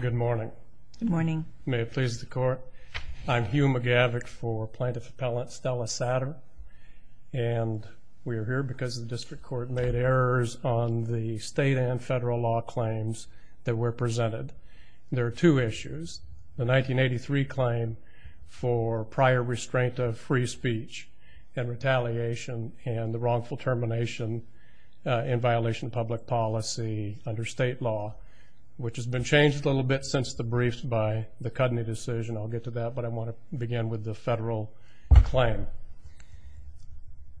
Good morning. Good morning. May it please the Court. I'm Hugh McGavick for Plaintiff Appellant Stella Satter and we are here because the District Court made errors on the state and federal law claims that were presented. There are two issues. The 1983 claim for prior restraint of free speech and retaliation and the wrongful termination in violation of public policy under state law, which has been changed a little bit since the briefs by the Cudney decision. I'll get to that but I want to begin with the federal claim.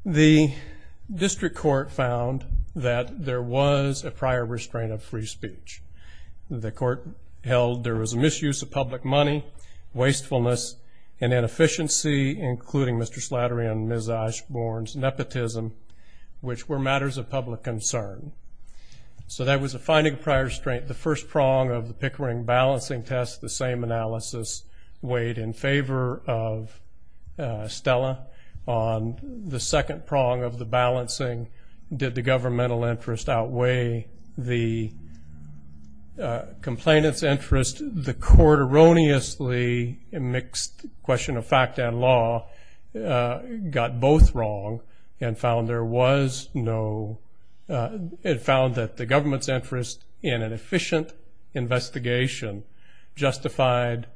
The District Court found that there was a prior restraint of free speech. The Court held there was a misuse of public money, wastefulness and inefficiency, including Mr. Slattery and Ms. Osborne's nepotism, which were matters of public concern. So that was a finding of prior restraint. The first prong of the Pickering balancing test, the same analysis weighed in favor of Stella. On the second prong of the balancing, did the governmental interest outweigh the complainant's interest? The Court erroneously mixed question of fact and law, got both wrong and found there was no, it found that the government's interest in an efficient investigation justified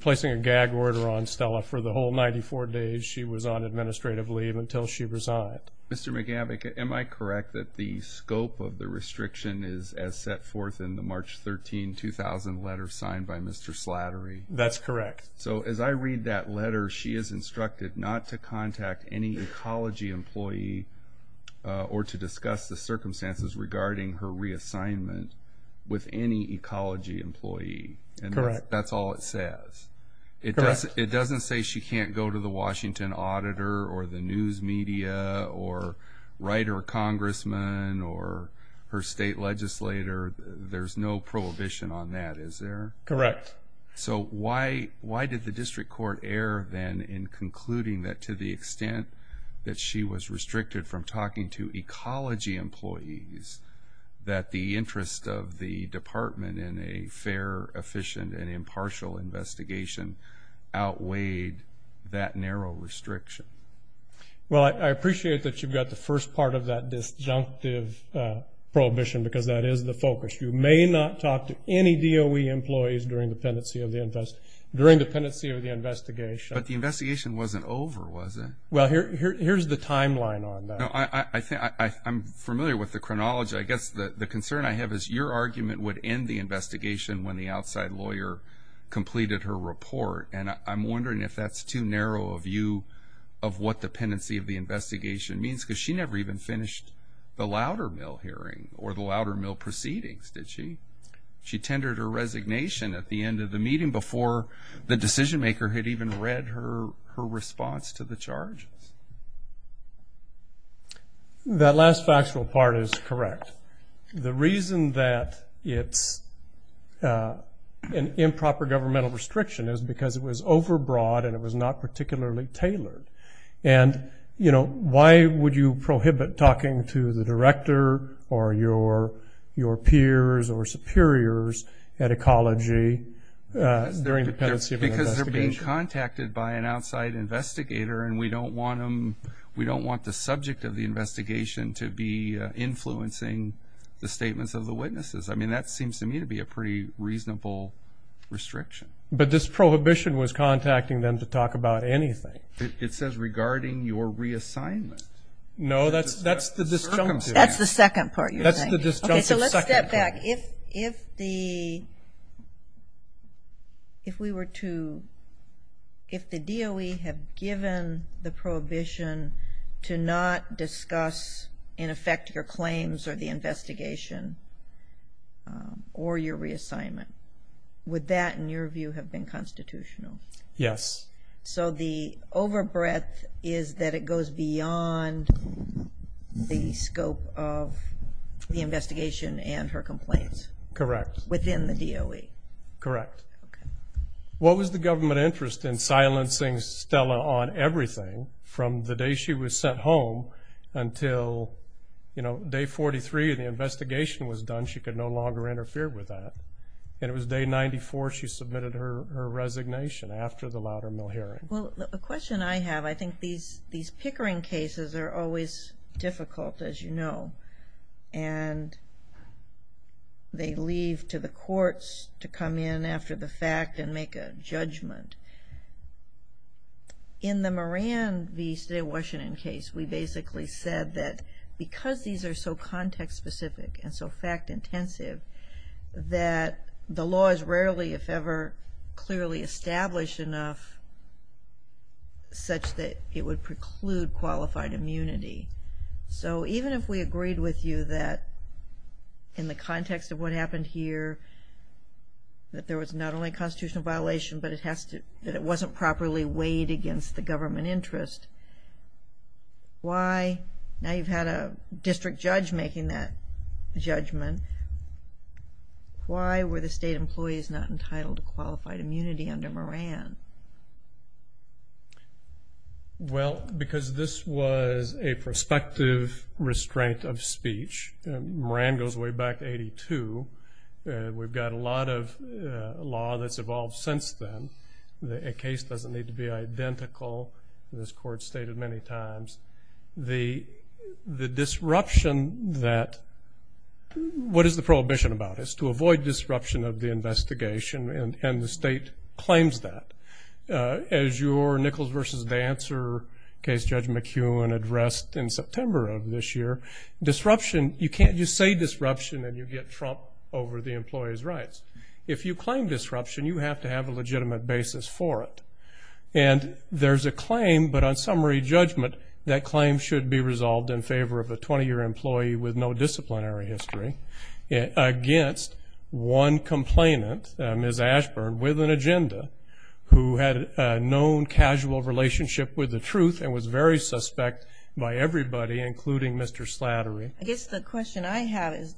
placing a gag order on Stella for the whole 94 days she was on administrative leave until she resigned. Mr. McGavick, am I correct that the scope of the restriction is as set forth in the March 13, 2000 letter signed by Mr. Slattery? That's correct. So as I read that letter, she is instructed not to contact any ecology employee or to discuss the circumstances regarding her reassignment with any ecology employee. Correct. That's all it says. It doesn't say she can't go to the Washington auditor or the news media or write her congressman or her state legislator. There's no prohibition on that, is there? Correct. So why did the district court err then in concluding that to the extent that she was restricted from talking to ecology employees, that the interest of the department in a fair, efficient, and impartial investigation outweighed that narrow restriction? Well, I appreciate that you've got the first part of that disjunctive prohibition because that is the focus. You may not talk to any DOE employees during the pendency of the investigation. But the investigation wasn't over, was it? Well, here's the timeline on that. I'm familiar with the chronology. I guess the concern I have is your argument would end the investigation when the outside lawyer completed her report, and I'm wondering if that's too narrow a view of what the pendency of the investigation means, because she never even finished the Loudermill hearing or the Loudermill proceedings, did she? She tendered her resignation at the end of the meeting before the decision maker had even read her response to the charges. That last factual part is correct. The reason that it's an improper governmental restriction is because it was overbroad and it was not particularly tailored. Why would you prohibit talking to the director or your peers or superiors at ecology during the pendency of an investigation? Because they're being contacted by an outside investigator, and we don't want the subject of the investigation to be influencing the statements of the witnesses. That seems to be a pretty reasonable restriction. But this prohibition was contacting them to talk about anything. It says regarding your reassignment. No, that's the disjunctive second part. Okay, so let's step back. If the DOE had given the prohibition to not discuss, in effect, your reassignment, would that, in your view, have been constitutional? Yes. So the overbreadth is that it goes beyond the scope of the investigation and her complaints? Correct. Within the DOE? Correct. What was the government interest in silencing Stella on everything from the day she was sent home until, you know, day 43 and the investigation was done, she could no longer interfere with that, and it was day 94 she submitted her resignation after the Loudermill hearing? Well, the question I have, I think these pickering cases are always difficult, as you know, and they leave to the courts to come in after the fact and make a judgment. In the Moran v. State of Washington case, we basically said that because these are so context-specific and so fact-intensive, that the law is rarely, if ever, clearly established enough such that it would preclude qualified immunity. So even if we agreed with you that in the context of what happened here, that there was not only a constitutional violation, but it wasn't properly weighed against the government interest, why? Now you've had a district judge making that judgment. Why were the state employees not entitled to qualified immunity under Moran? Well, because this was a prospective restraint of speech. Moran goes way back to 82. We've got a lot of law that's evolved since then. A case doesn't need to be identical, as this court stated many times. The disruption that, what is the prohibition about? It's to avoid disruption of the investigation, and the state claims that. As your Nichols v. Dancer case Judge McEwen addressed in September of this year, disruption, you can't just say disruption and you get Trump over the employee's rights. If you claim disruption, you have to have a legitimate basis for it. And there's a claim, but on summary judgment, that claim should be resolved in favor of a 20-year employee with no disciplinary history against one complainant, Ms. Ashburn, with an agenda, who had a known casual relationship with the truth and was very suspect by everybody, including Mr. Slattery. I guess the question I have is,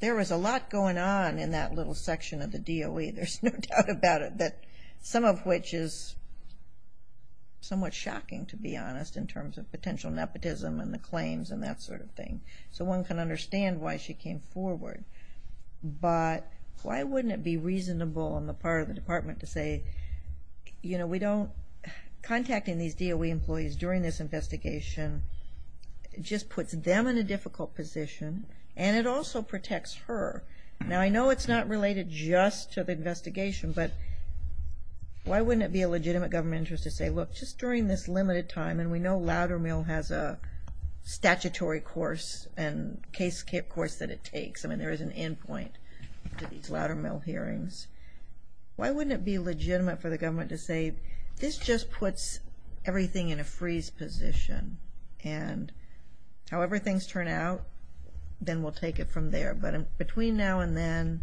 there was a lot going on in that little section of the DOE, there's no doubt about it, that some of which is somewhat shocking, to be honest, in terms of potential nepotism and the claims and that sort of thing. So one can understand why she came forward. But why wouldn't it be reasonable on the part of the Department to say, you know, we don't, contacting these DOE employees during this investigation just puts them in a difficult position, and it also protects her. Now, I know it's not related just to the investigation, but why wouldn't it be a legitimate government interest to say, look, just during this limited time, and we know Loudermill has a statutory course and case course that it takes, I mean, there is an end point to these Loudermill hearings. Why wouldn't it be legitimate for the government to say, this just puts everything in a freeze position, and however things turn out, then we'll take it from there. But between now and then,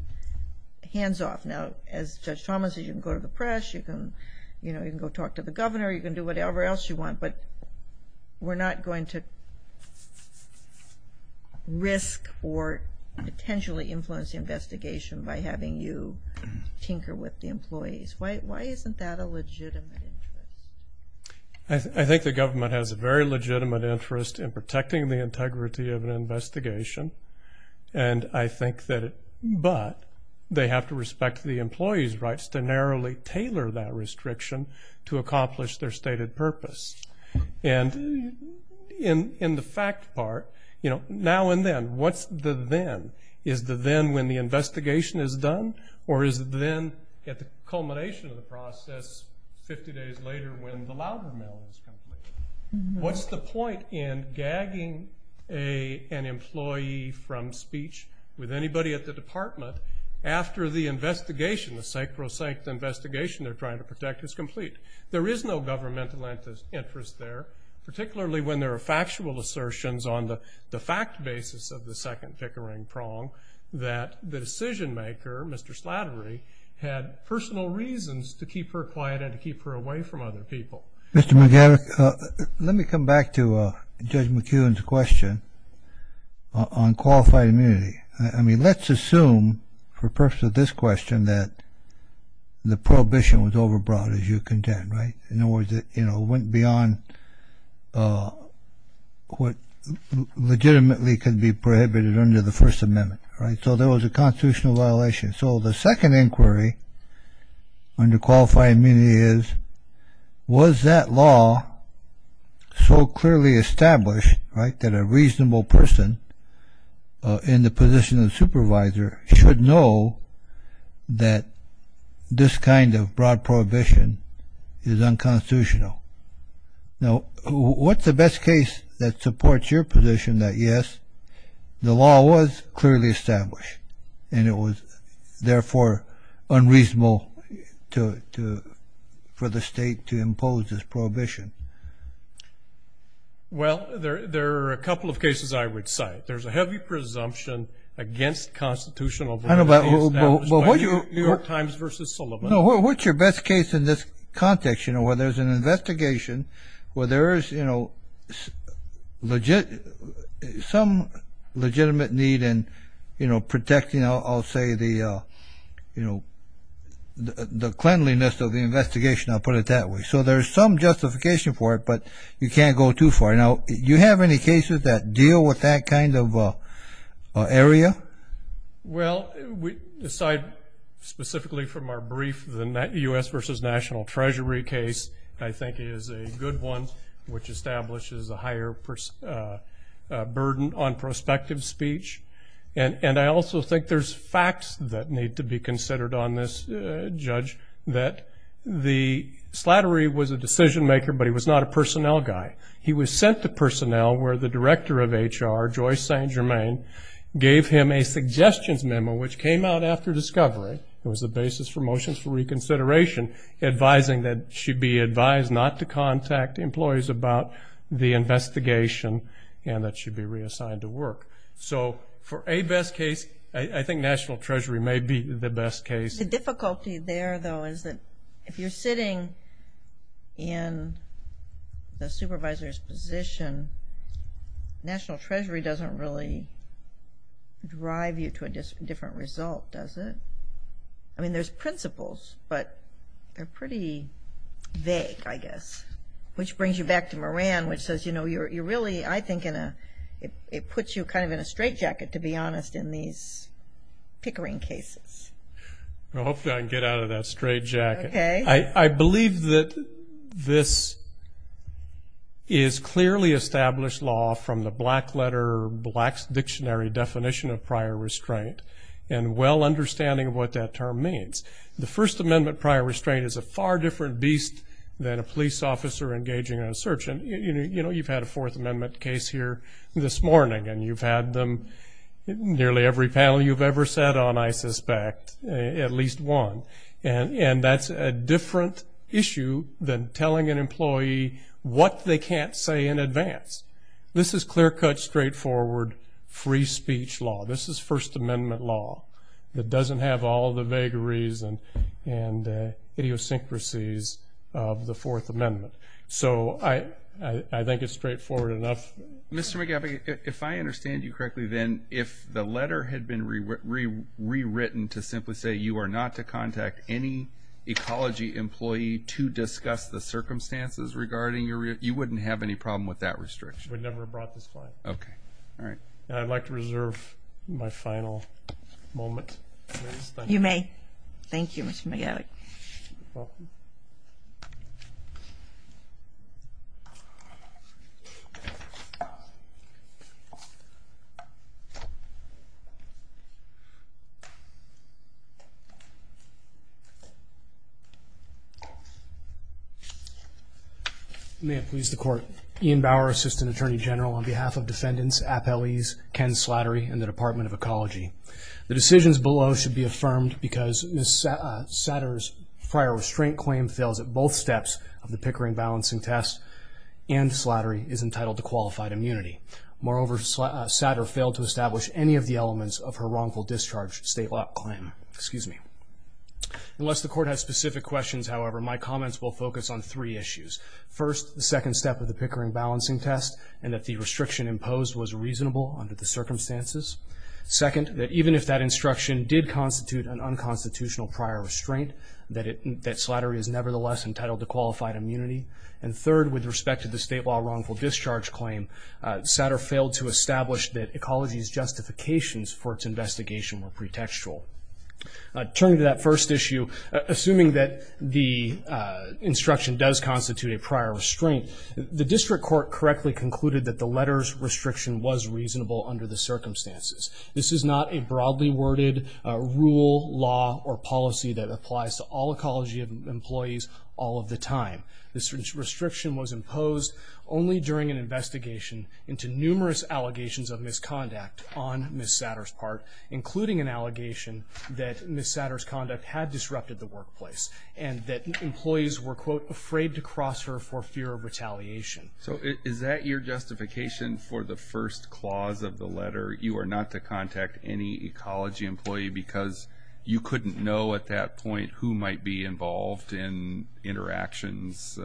hands off. Now, as Judge Thomas said, you can go to the press, you can, you know, you can go talk to the governor, you can do whatever else you want, but we're not going to risk or potentially influence the investigation by having you tinker with the employees. Why isn't that a legitimate interest? I think the government has a very legitimate interest in protecting the integrity of an investigation, and I think that it, but they have to respect the employee's rights to narrowly tailor that restriction to accomplish their stated purpose. And in the fact part, you know, now and then, what's the then? Is the then when the investigation is done, or is it when the Loudermill is completed? What's the point in gagging an employee from speech with anybody at the department after the investigation, the psychrosanct investigation they're trying to protect is complete? There is no governmental interest there, particularly when there are factual assertions on the fact basis of the second pickering prong that the decision maker, Mr. Slattery, had personal reasons to keep her quiet and to keep her away from other people. Mr. McGarrett, let me come back to Judge McEwen's question on qualified immunity. I mean, let's assume for purpose of this question that the prohibition was overbrought, as you contend, right? In other words, it, you know, went beyond what legitimately could be prohibited under the constitutional violation. So the second inquiry under qualified immunity is, was that law so clearly established, right, that a reasonable person in the position of supervisor should know that this kind of broad prohibition is unconstitutional? Now, what's the best case that supports your position that, yes, the law was clearly established, and it was, therefore, unreasonable to, for the state to impose this prohibition? Well, there are a couple of cases I would cite. There's a heavy presumption against constitutional violation established by the New York Times versus Sullivan. No, what's your best case in this context, you know, where there's an investigation, where there is, you know, some legitimate need in, you know, protecting, I'll say, the, you know, the cleanliness of the investigation, I'll put it that way. So there's some justification for it, but you can't go too far. Now, you have any cases that deal with that kind of area? Well, aside specifically from our brief, the U.S. versus National Treasury case, I think is a good one, which establishes a higher burden on prospective speech. And I also think there's facts that need to be considered on this, Judge, that the slattery was a decision-maker, but he was not a personnel guy. He was sent to personnel where the director of HR, Joyce St. Germain, gave him a suggestions memo, which came out after discovery. It was the basis for motions for reconsideration, advising that she'd be advised not to contact employees about the investigation and that she'd be reassigned to work. So for a best case, I think National Treasury may be the best case. The difficulty there, though, is that if you're sitting in the supervisor's position, National Treasury doesn't really drive you to a different result, does it? I mean, there's principles, but they're pretty vague, I guess, which brings you back to Moran, which says, you know, you're really, I think, in a, it puts you kind of in a straitjacket, to be honest, in these pickering cases. Well, hopefully I can get out of that straitjacket. Okay. I believe that this is clearly established law from the black letter, black dictionary definition of prior restraint and well understanding of what that term means. The First Amendment prior restraint is a far different beast than a police officer engaging in a search. And, you know, you've had a Fourth Amendment case here this morning, and you've had them, nearly every panel you've ever sat on, I suspect, at least one. And that's a different issue than telling an employee what they can't say in advance. This is clear-cut, straightforward, free speech law. This is First Amendment law that doesn't have all the vagaries and idiosyncrasies of the Fourth Amendment. So I think it's straightforward enough. Mr. McGaffey, if I understand you correctly, then, if the letter had been rewritten to simply say you are not to contact any ecology employee to discuss the circumstances regarding your, you wouldn't have any problem with that restriction. I would never have brought this client. Okay. All right. I'd like to reserve my final moment. You may. Thank you, Mr. McGaffey. May it please the Court. Ian Bauer, Assistant Attorney General, on behalf of defendants, appellees, Ken Slattery, and the Department of Ecology. The decisions below should be affirmed because Ms. Satter's prior restraint claim fails at both steps of the Pickering balancing test, and Slattery is entitled to qualified immunity. Moreover, Satter failed to establish any of the elements of her wrongful discharge state law claim. Excuse me. Unless the Court has specific questions, however, my comments will focus on three issues. First, the second step of the Pickering balancing test, and that the restriction imposed was reasonable under the circumstances. Second, that even if that instruction did constitute an unconstitutional prior restraint, that Slattery is nevertheless entitled to qualified immunity. And third, with respect to the state law wrongful discharge claim, Satter failed to establish that ecology's justifications for its investigation were pretextual. Turning to that first issue, assuming that the instruction does constitute a prior restraint, the District Court correctly concluded that the letters restriction was reasonable under the circumstances. This is not a broadly worded rule, law, or policy that applies to all ecology employees all of the time. This restriction was imposed only during an investigation into Ms. Satter's conduct had disrupted the workplace, and that employees were, quote, afraid to cross her for fear of retaliation. So is that your justification for the first clause of the letter? You are not to contact any ecology employee because you couldn't know at that point who might be involved in interactions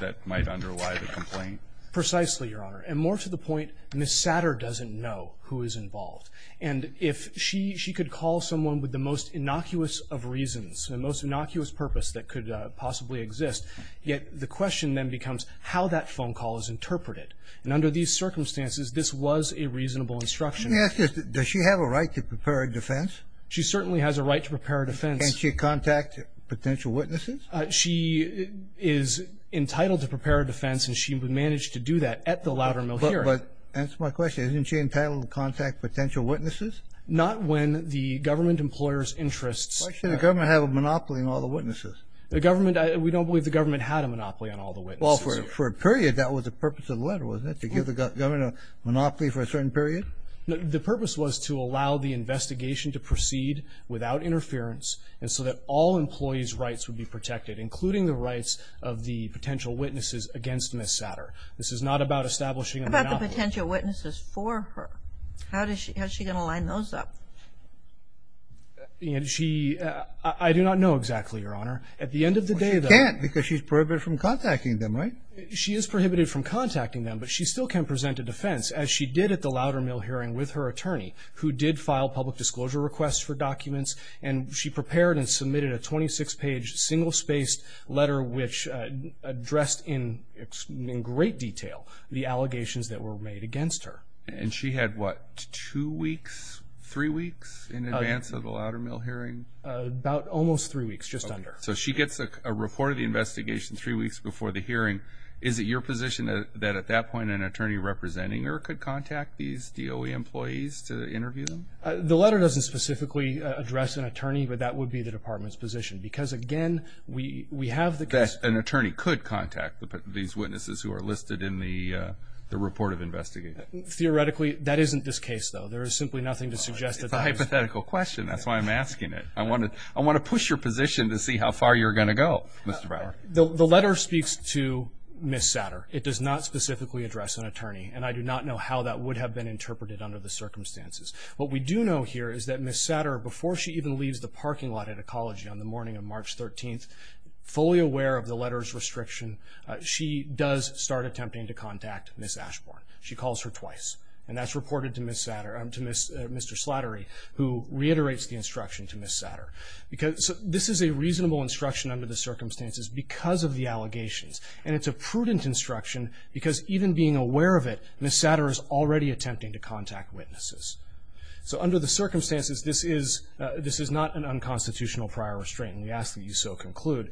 that might underlie the complaint? Precisely, Your Honor. And more to the point, Ms. Satter doesn't know who is involved. And if she could call someone with the most innocuous of reasons, the most innocuous purpose that could possibly exist, yet the question then becomes how that phone call is interpreted. And under these circumstances, this was a reasonable instruction. Let me ask you, does she have a right to prepare a defense? She certainly has a right to prepare a defense. Can't she contact potential witnesses? She is entitled to prepare a defense, and she would manage to do that at the Loudermill hearing. But that's my question. Isn't she entitled to contact potential witnesses? Not when the government employer's interests Why should the government have a monopoly on all the witnesses? The government, we don't believe the government had a monopoly on all the witnesses. Well, for a period, that was the purpose of the letter, wasn't it, to give the government a monopoly for a certain period? The purpose was to allow the investigation to proceed without interference and so that all employees' rights would be protected, including the rights of the potential witnesses against Ms. Satter. This is not about establishing a monopoly. She has potential witnesses for her. How is she going to line those up? I do not know exactly, Your Honor. She can't, because she's prohibited from contacting them, right? She is prohibited from contacting them, but she still can present a defense, as she did at the Loudermill hearing with her attorney, who did file public disclosure requests for documents. And she prepared and submitted a 26-page, single-spaced letter, which addressed in great detail the allegations that were made against her. And she had, what, two weeks, three weeks in advance of the Loudermill hearing? About almost three weeks, just under. So she gets a report of the investigation three weeks before the hearing. Is it your position that, at that point, an attorney representing her could contact these DOE employees to interview them? The letter doesn't specifically address an attorney, but that would be the Department's position, because, again, we have the case— An attorney could contact these witnesses who are listed in the report of investigation. Theoretically, that isn't this case, though. There is simply nothing to suggest that— It's a hypothetical question. That's why I'm asking it. I want to push your position to see how far you're going to go, Mr. Brower. The letter speaks to Ms. Satter. It does not specifically address an attorney, and I do not know how that would have been interpreted under the circumstances. What we do know here is that Ms. Satter, before she even leaves the parking lot at Ecology on the morning of March 13th, fully aware of the letter's restriction, she does start attempting to contact Ms. Ashbourne. She calls her twice, and that's reported to Mr. Slattery, who reiterates the instruction to Ms. Satter. This is a reasonable instruction under the circumstances because of the allegations, and it's a prudent instruction because, even being aware of it, Ms. Satter is already attempting to contact witnesses. So under the circumstances, this is not an unconstitutional prior restraint, and we ask that you so conclude.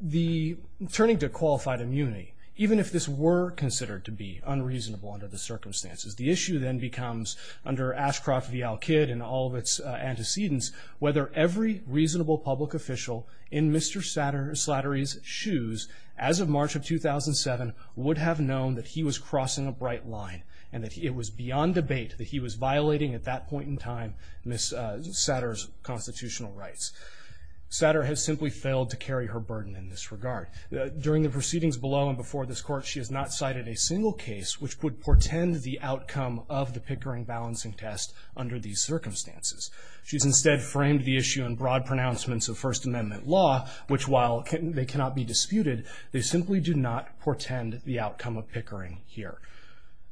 The turning to qualified immunity, even if this were considered to be unreasonable under the circumstances, the issue then becomes, under Ashcroft v. Al-Kidd and all of its antecedents, whether every reasonable public official in Mr. Slattery's shoes as of March of 2007 would have known that he was crossing a bright line and that it was beyond debate that he was violating, at that point in time, Ms. Satter's constitutional rights. Satter has simply failed to carry her burden in this regard. During the proceedings below and before this Court, she has not cited a single case which would portend the outcome of the Pickering balancing test under these circumstances. She's instead framed the issue in broad pronouncements of First Amendment law, which, while they cannot be disputed, they simply do not portend the outcome of Pickering here.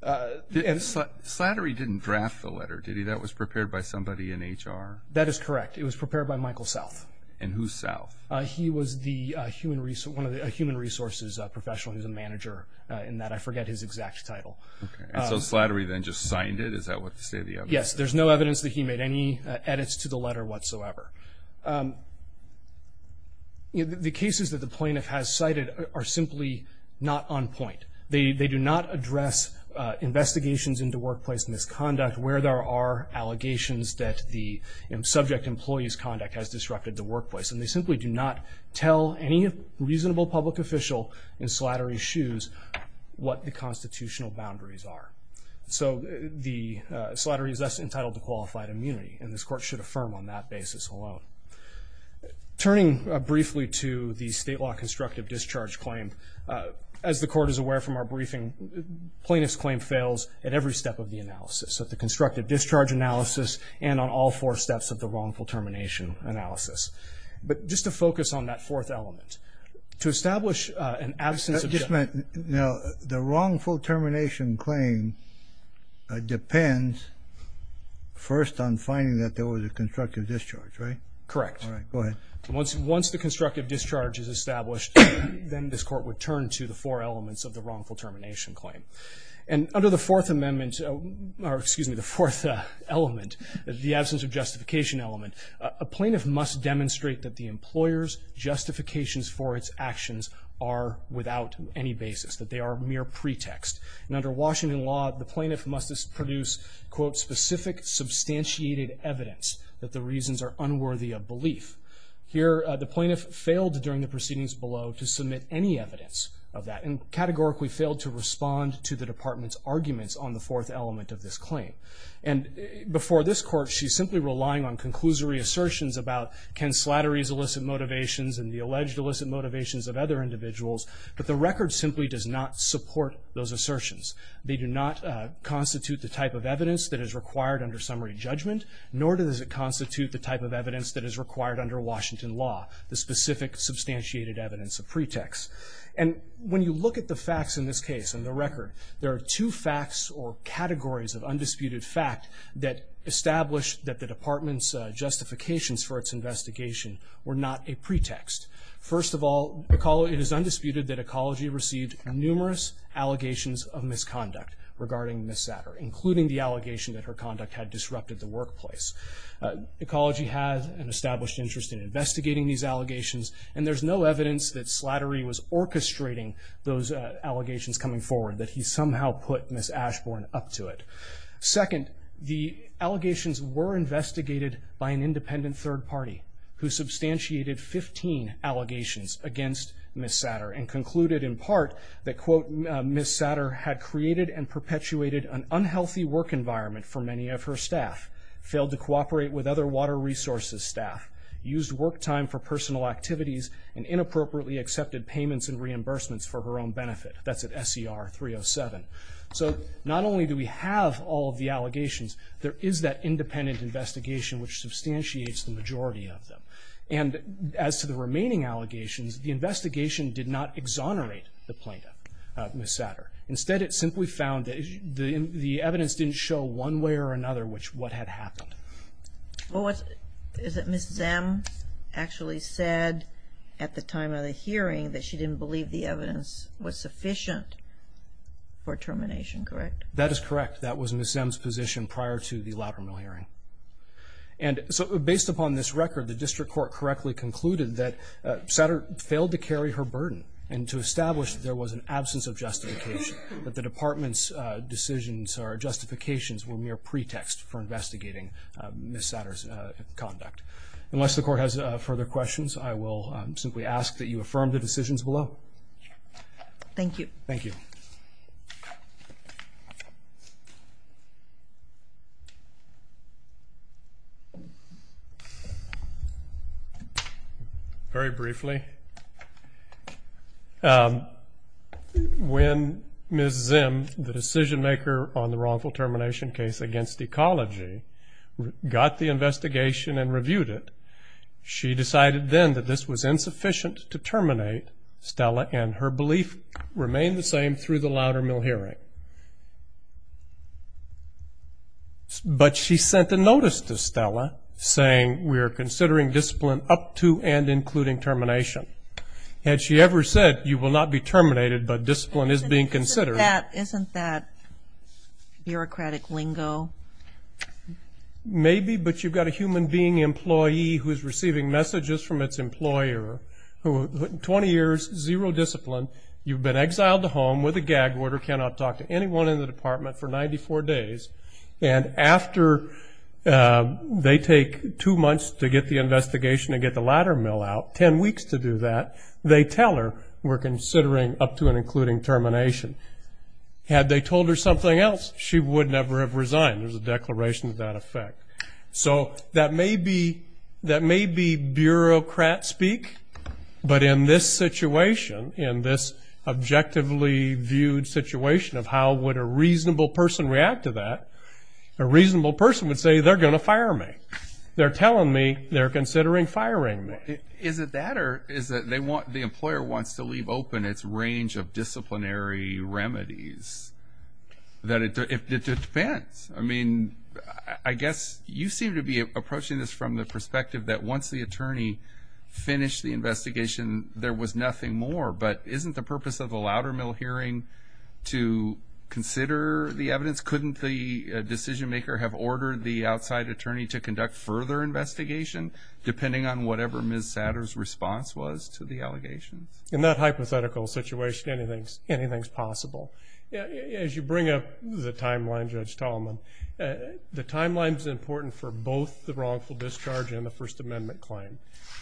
Slattery didn't draft the letter, did he? That was prepared by somebody in HR? That is correct. It was prepared by Michael South. And who's South? He was the human resources professional. He was a manager in that. I forget his exact title. Okay. And so Slattery then just signed it? Is that what the State of the Union said? Yes. There's no evidence that he made any edits to the letter whatsoever. The cases that the plaintiff has cited are simply not on point. They do not address investigations into workplace misconduct where there are allegations that the subject employee's conduct has disrupted the workplace. And they simply do not tell any reasonable public official in Slattery's shoes what the constitutional boundaries are. So the Slattery is less entitled to qualified immunity. And this Court should affirm on that basis alone. Turning briefly to the state law constructive discharge claim, as the Court is aware from our briefing, plaintiff's claim fails at every step of the analysis, at the constructive discharge analysis and on all four steps of the wrongful termination analysis. But just to focus on that fourth element, to establish an absence of judgment. Now, the wrongful termination claim depends first on finding that there was a constructive discharge, right? Correct. All right. Go ahead. Once the constructive discharge is established, then this Court would turn to the four elements of the wrongful termination claim. And under the fourth amendment, or excuse me, the fourth element, the absence of justification element, a plaintiff must demonstrate that the employer's justifications for its actions are without any basis, that they are mere pretext. And under Washington law, the plaintiff must produce, quote, specific substantiated evidence that the reasons are unworthy of belief. Here, the plaintiff failed during the proceedings below to submit any evidence of that, and categorically failed to respond to the Department's arguments on the fourth element of this claim. And before this Court, she's simply relying on conclusory assertions about Ken Slattery's illicit motivations and the alleged illicit motivations of other individuals. But the record simply does not support those assertions. They do not constitute the type of evidence that is required under summary judgment, nor does it constitute the type of evidence that is required under Washington law, the specific substantiated evidence of pretext. And when you look at the facts in this case and the record, there are two facts or categories of undisputed fact that establish that the Department's justifications for its investigation were not a pretext. First of all, it is undisputed that Ecology received numerous allegations of misconduct regarding Ms. Satter, including the allegation that her conduct had disrupted the workplace. Ecology has an established interest in investigating these allegations, and there's no evidence that Slattery was orchestrating those allegations coming forward, that he somehow put Ms. Ashbourne up to it. Second, the allegations were investigated by an independent third party who substantiated 15 allegations against Ms. Satter, and concluded in part that, quote, Ms. Satter had created and perpetuated an unhealthy work environment for many of her staff, failed to cooperate with other water resources staff, used work time for personal activities, and inappropriately accepted payments and reimbursements for her own benefit. That's at SCR 307. So not only do we have all of the allegations, there is that independent investigation which substantiates the majority of them. And as to the remaining allegations, the investigation did not exonerate the plaintiff, Ms. Satter. Instead, it simply found that the evidence didn't show one way or another what had happened. Well, is it Ms. Zimm actually said at the time of the hearing that she didn't believe the evidence was sufficient for termination, correct? That is correct. That was Ms. Zimm's position prior to the latter mill hearing. And so based upon this record, the district court correctly concluded that Satter failed to carry her burden, and to establish there was an absence of justification, that the department's decisions or justifications were mere pretext for investigating Ms. Satter's conduct. Unless the court has further questions, I will simply ask that you affirm the decisions below. Thank you. Thank you. Very briefly, when Ms. Zimm, the decision maker on the wrongful termination case against ecology, got the investigation and reviewed it, she decided then that this was insufficient to terminate Stella, and her belief remained the same through the louder mill hearing. But she sent a notice to Stella saying, we are considering discipline up to and including termination. Had she ever said, you will not be terminated, but discipline is being considered. Isn't that bureaucratic lingo? Maybe, but you've got a human being employee who is receiving messages from its employer, who in 20 years, zero discipline, you've been exiled to home with a gag order, cannot talk to anyone in the department for 94 days, and after they take two months to get the investigation and get the louder mill out, ten weeks to do that, they tell her, we're considering up to and including termination. Had they told her something else, she would never have resigned. There's a declaration of that effect. So that may be bureaucrat speak, but in this situation, in this objectively viewed situation of how would a reasonable person react to that, a reasonable person would say, they're going to fire me. They're telling me they're considering firing me. Is it that or is it they want, the employer wants to leave open its range of disciplinary remedies? That it depends. I mean, I guess you seem to be approaching this from the perspective that once the attorney finished the investigation, there was nothing more, but isn't the purpose of the louder mill hearing to consider the evidence? Couldn't the decision maker have ordered the outside attorney to conduct further investigation, depending on whatever Ms. Satter's response was to the allegations? In that hypothetical situation, anything's possible. As you bring up the timeline, Judge Tallman, the timeline's important for both the wrongful discharge and the First Amendment claim.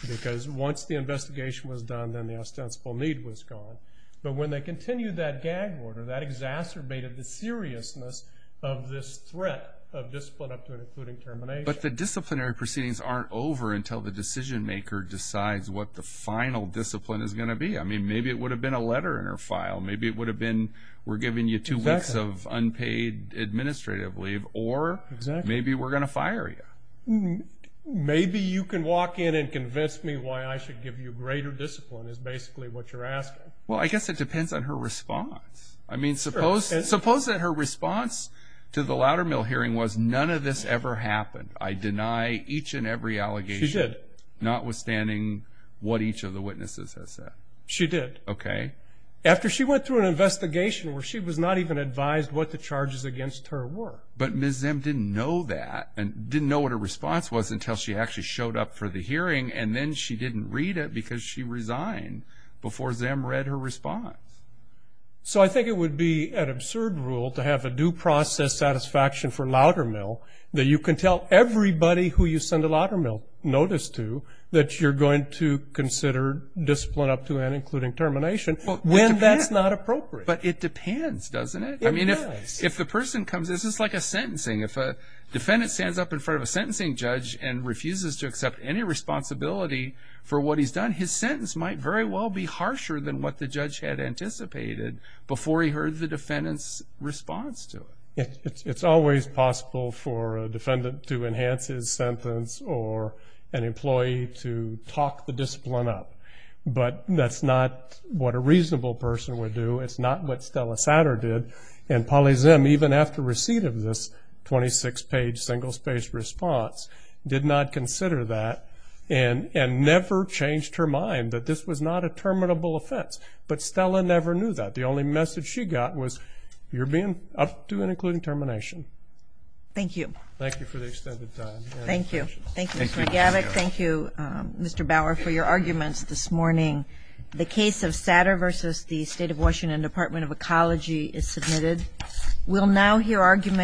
Because once the investigation was done, then the ostensible need was gone. But when they continued that gag order, that exacerbated the seriousness of this threat of discipline up to and including termination. But the disciplinary proceedings aren't over until the decision maker decides what the final discipline is going to be. I mean, maybe it would have been a letter in her file. Maybe it would have been, we're giving you two weeks of unpaid administrative leave, or maybe we're going to fire you. Maybe you can walk in and convince me why I should give you greater discipline, is basically what you're asking. Well, I guess it depends on her response. I mean, suppose that her response to the louder mill hearing was none of this ever happened. I deny each and every allegation. She did. Notwithstanding what each of the witnesses has said. She did. Okay. After she went through an investigation where she was not even advised what the charges against her were. But Ms. Zim didn't know that, and didn't know what her response was until she actually showed up for the hearing, and then she didn't read it because she resigned before Zim read her response. So I think it would be an absurd rule to have a due process satisfaction for louder mill that you can tell everybody who you send a louder mill notice to that you're going to consider discipline up to and including termination when that's not appropriate. But it depends, doesn't it? It does. If the person comes, this is like a sentencing. If a defendant stands up in front of a sentencing judge and refuses to accept any responsibility for what he's done, his sentence might very well be harsher than what the judge had anticipated before he heard the defendant's response to it. It's always possible for a defendant to enhance his sentence or an employee to talk the discipline up. But that's not what a reasonable person would do. It's not what Stella Satter did. And Polly Zim, even after receipt of this 26-page single-spaced response, did not consider that and never changed her mind that this was not a terminable offense. But Stella never knew that. The only message she got was, you're being up to and including termination. Thank you. Thank you for the extended time. Thank you. Thank you, Mr. McGavick. Thank you, Mr. Bauer, for your arguments this morning. The case of Satter versus the State of Washington Department of Ecology is submitted. We'll now hear argument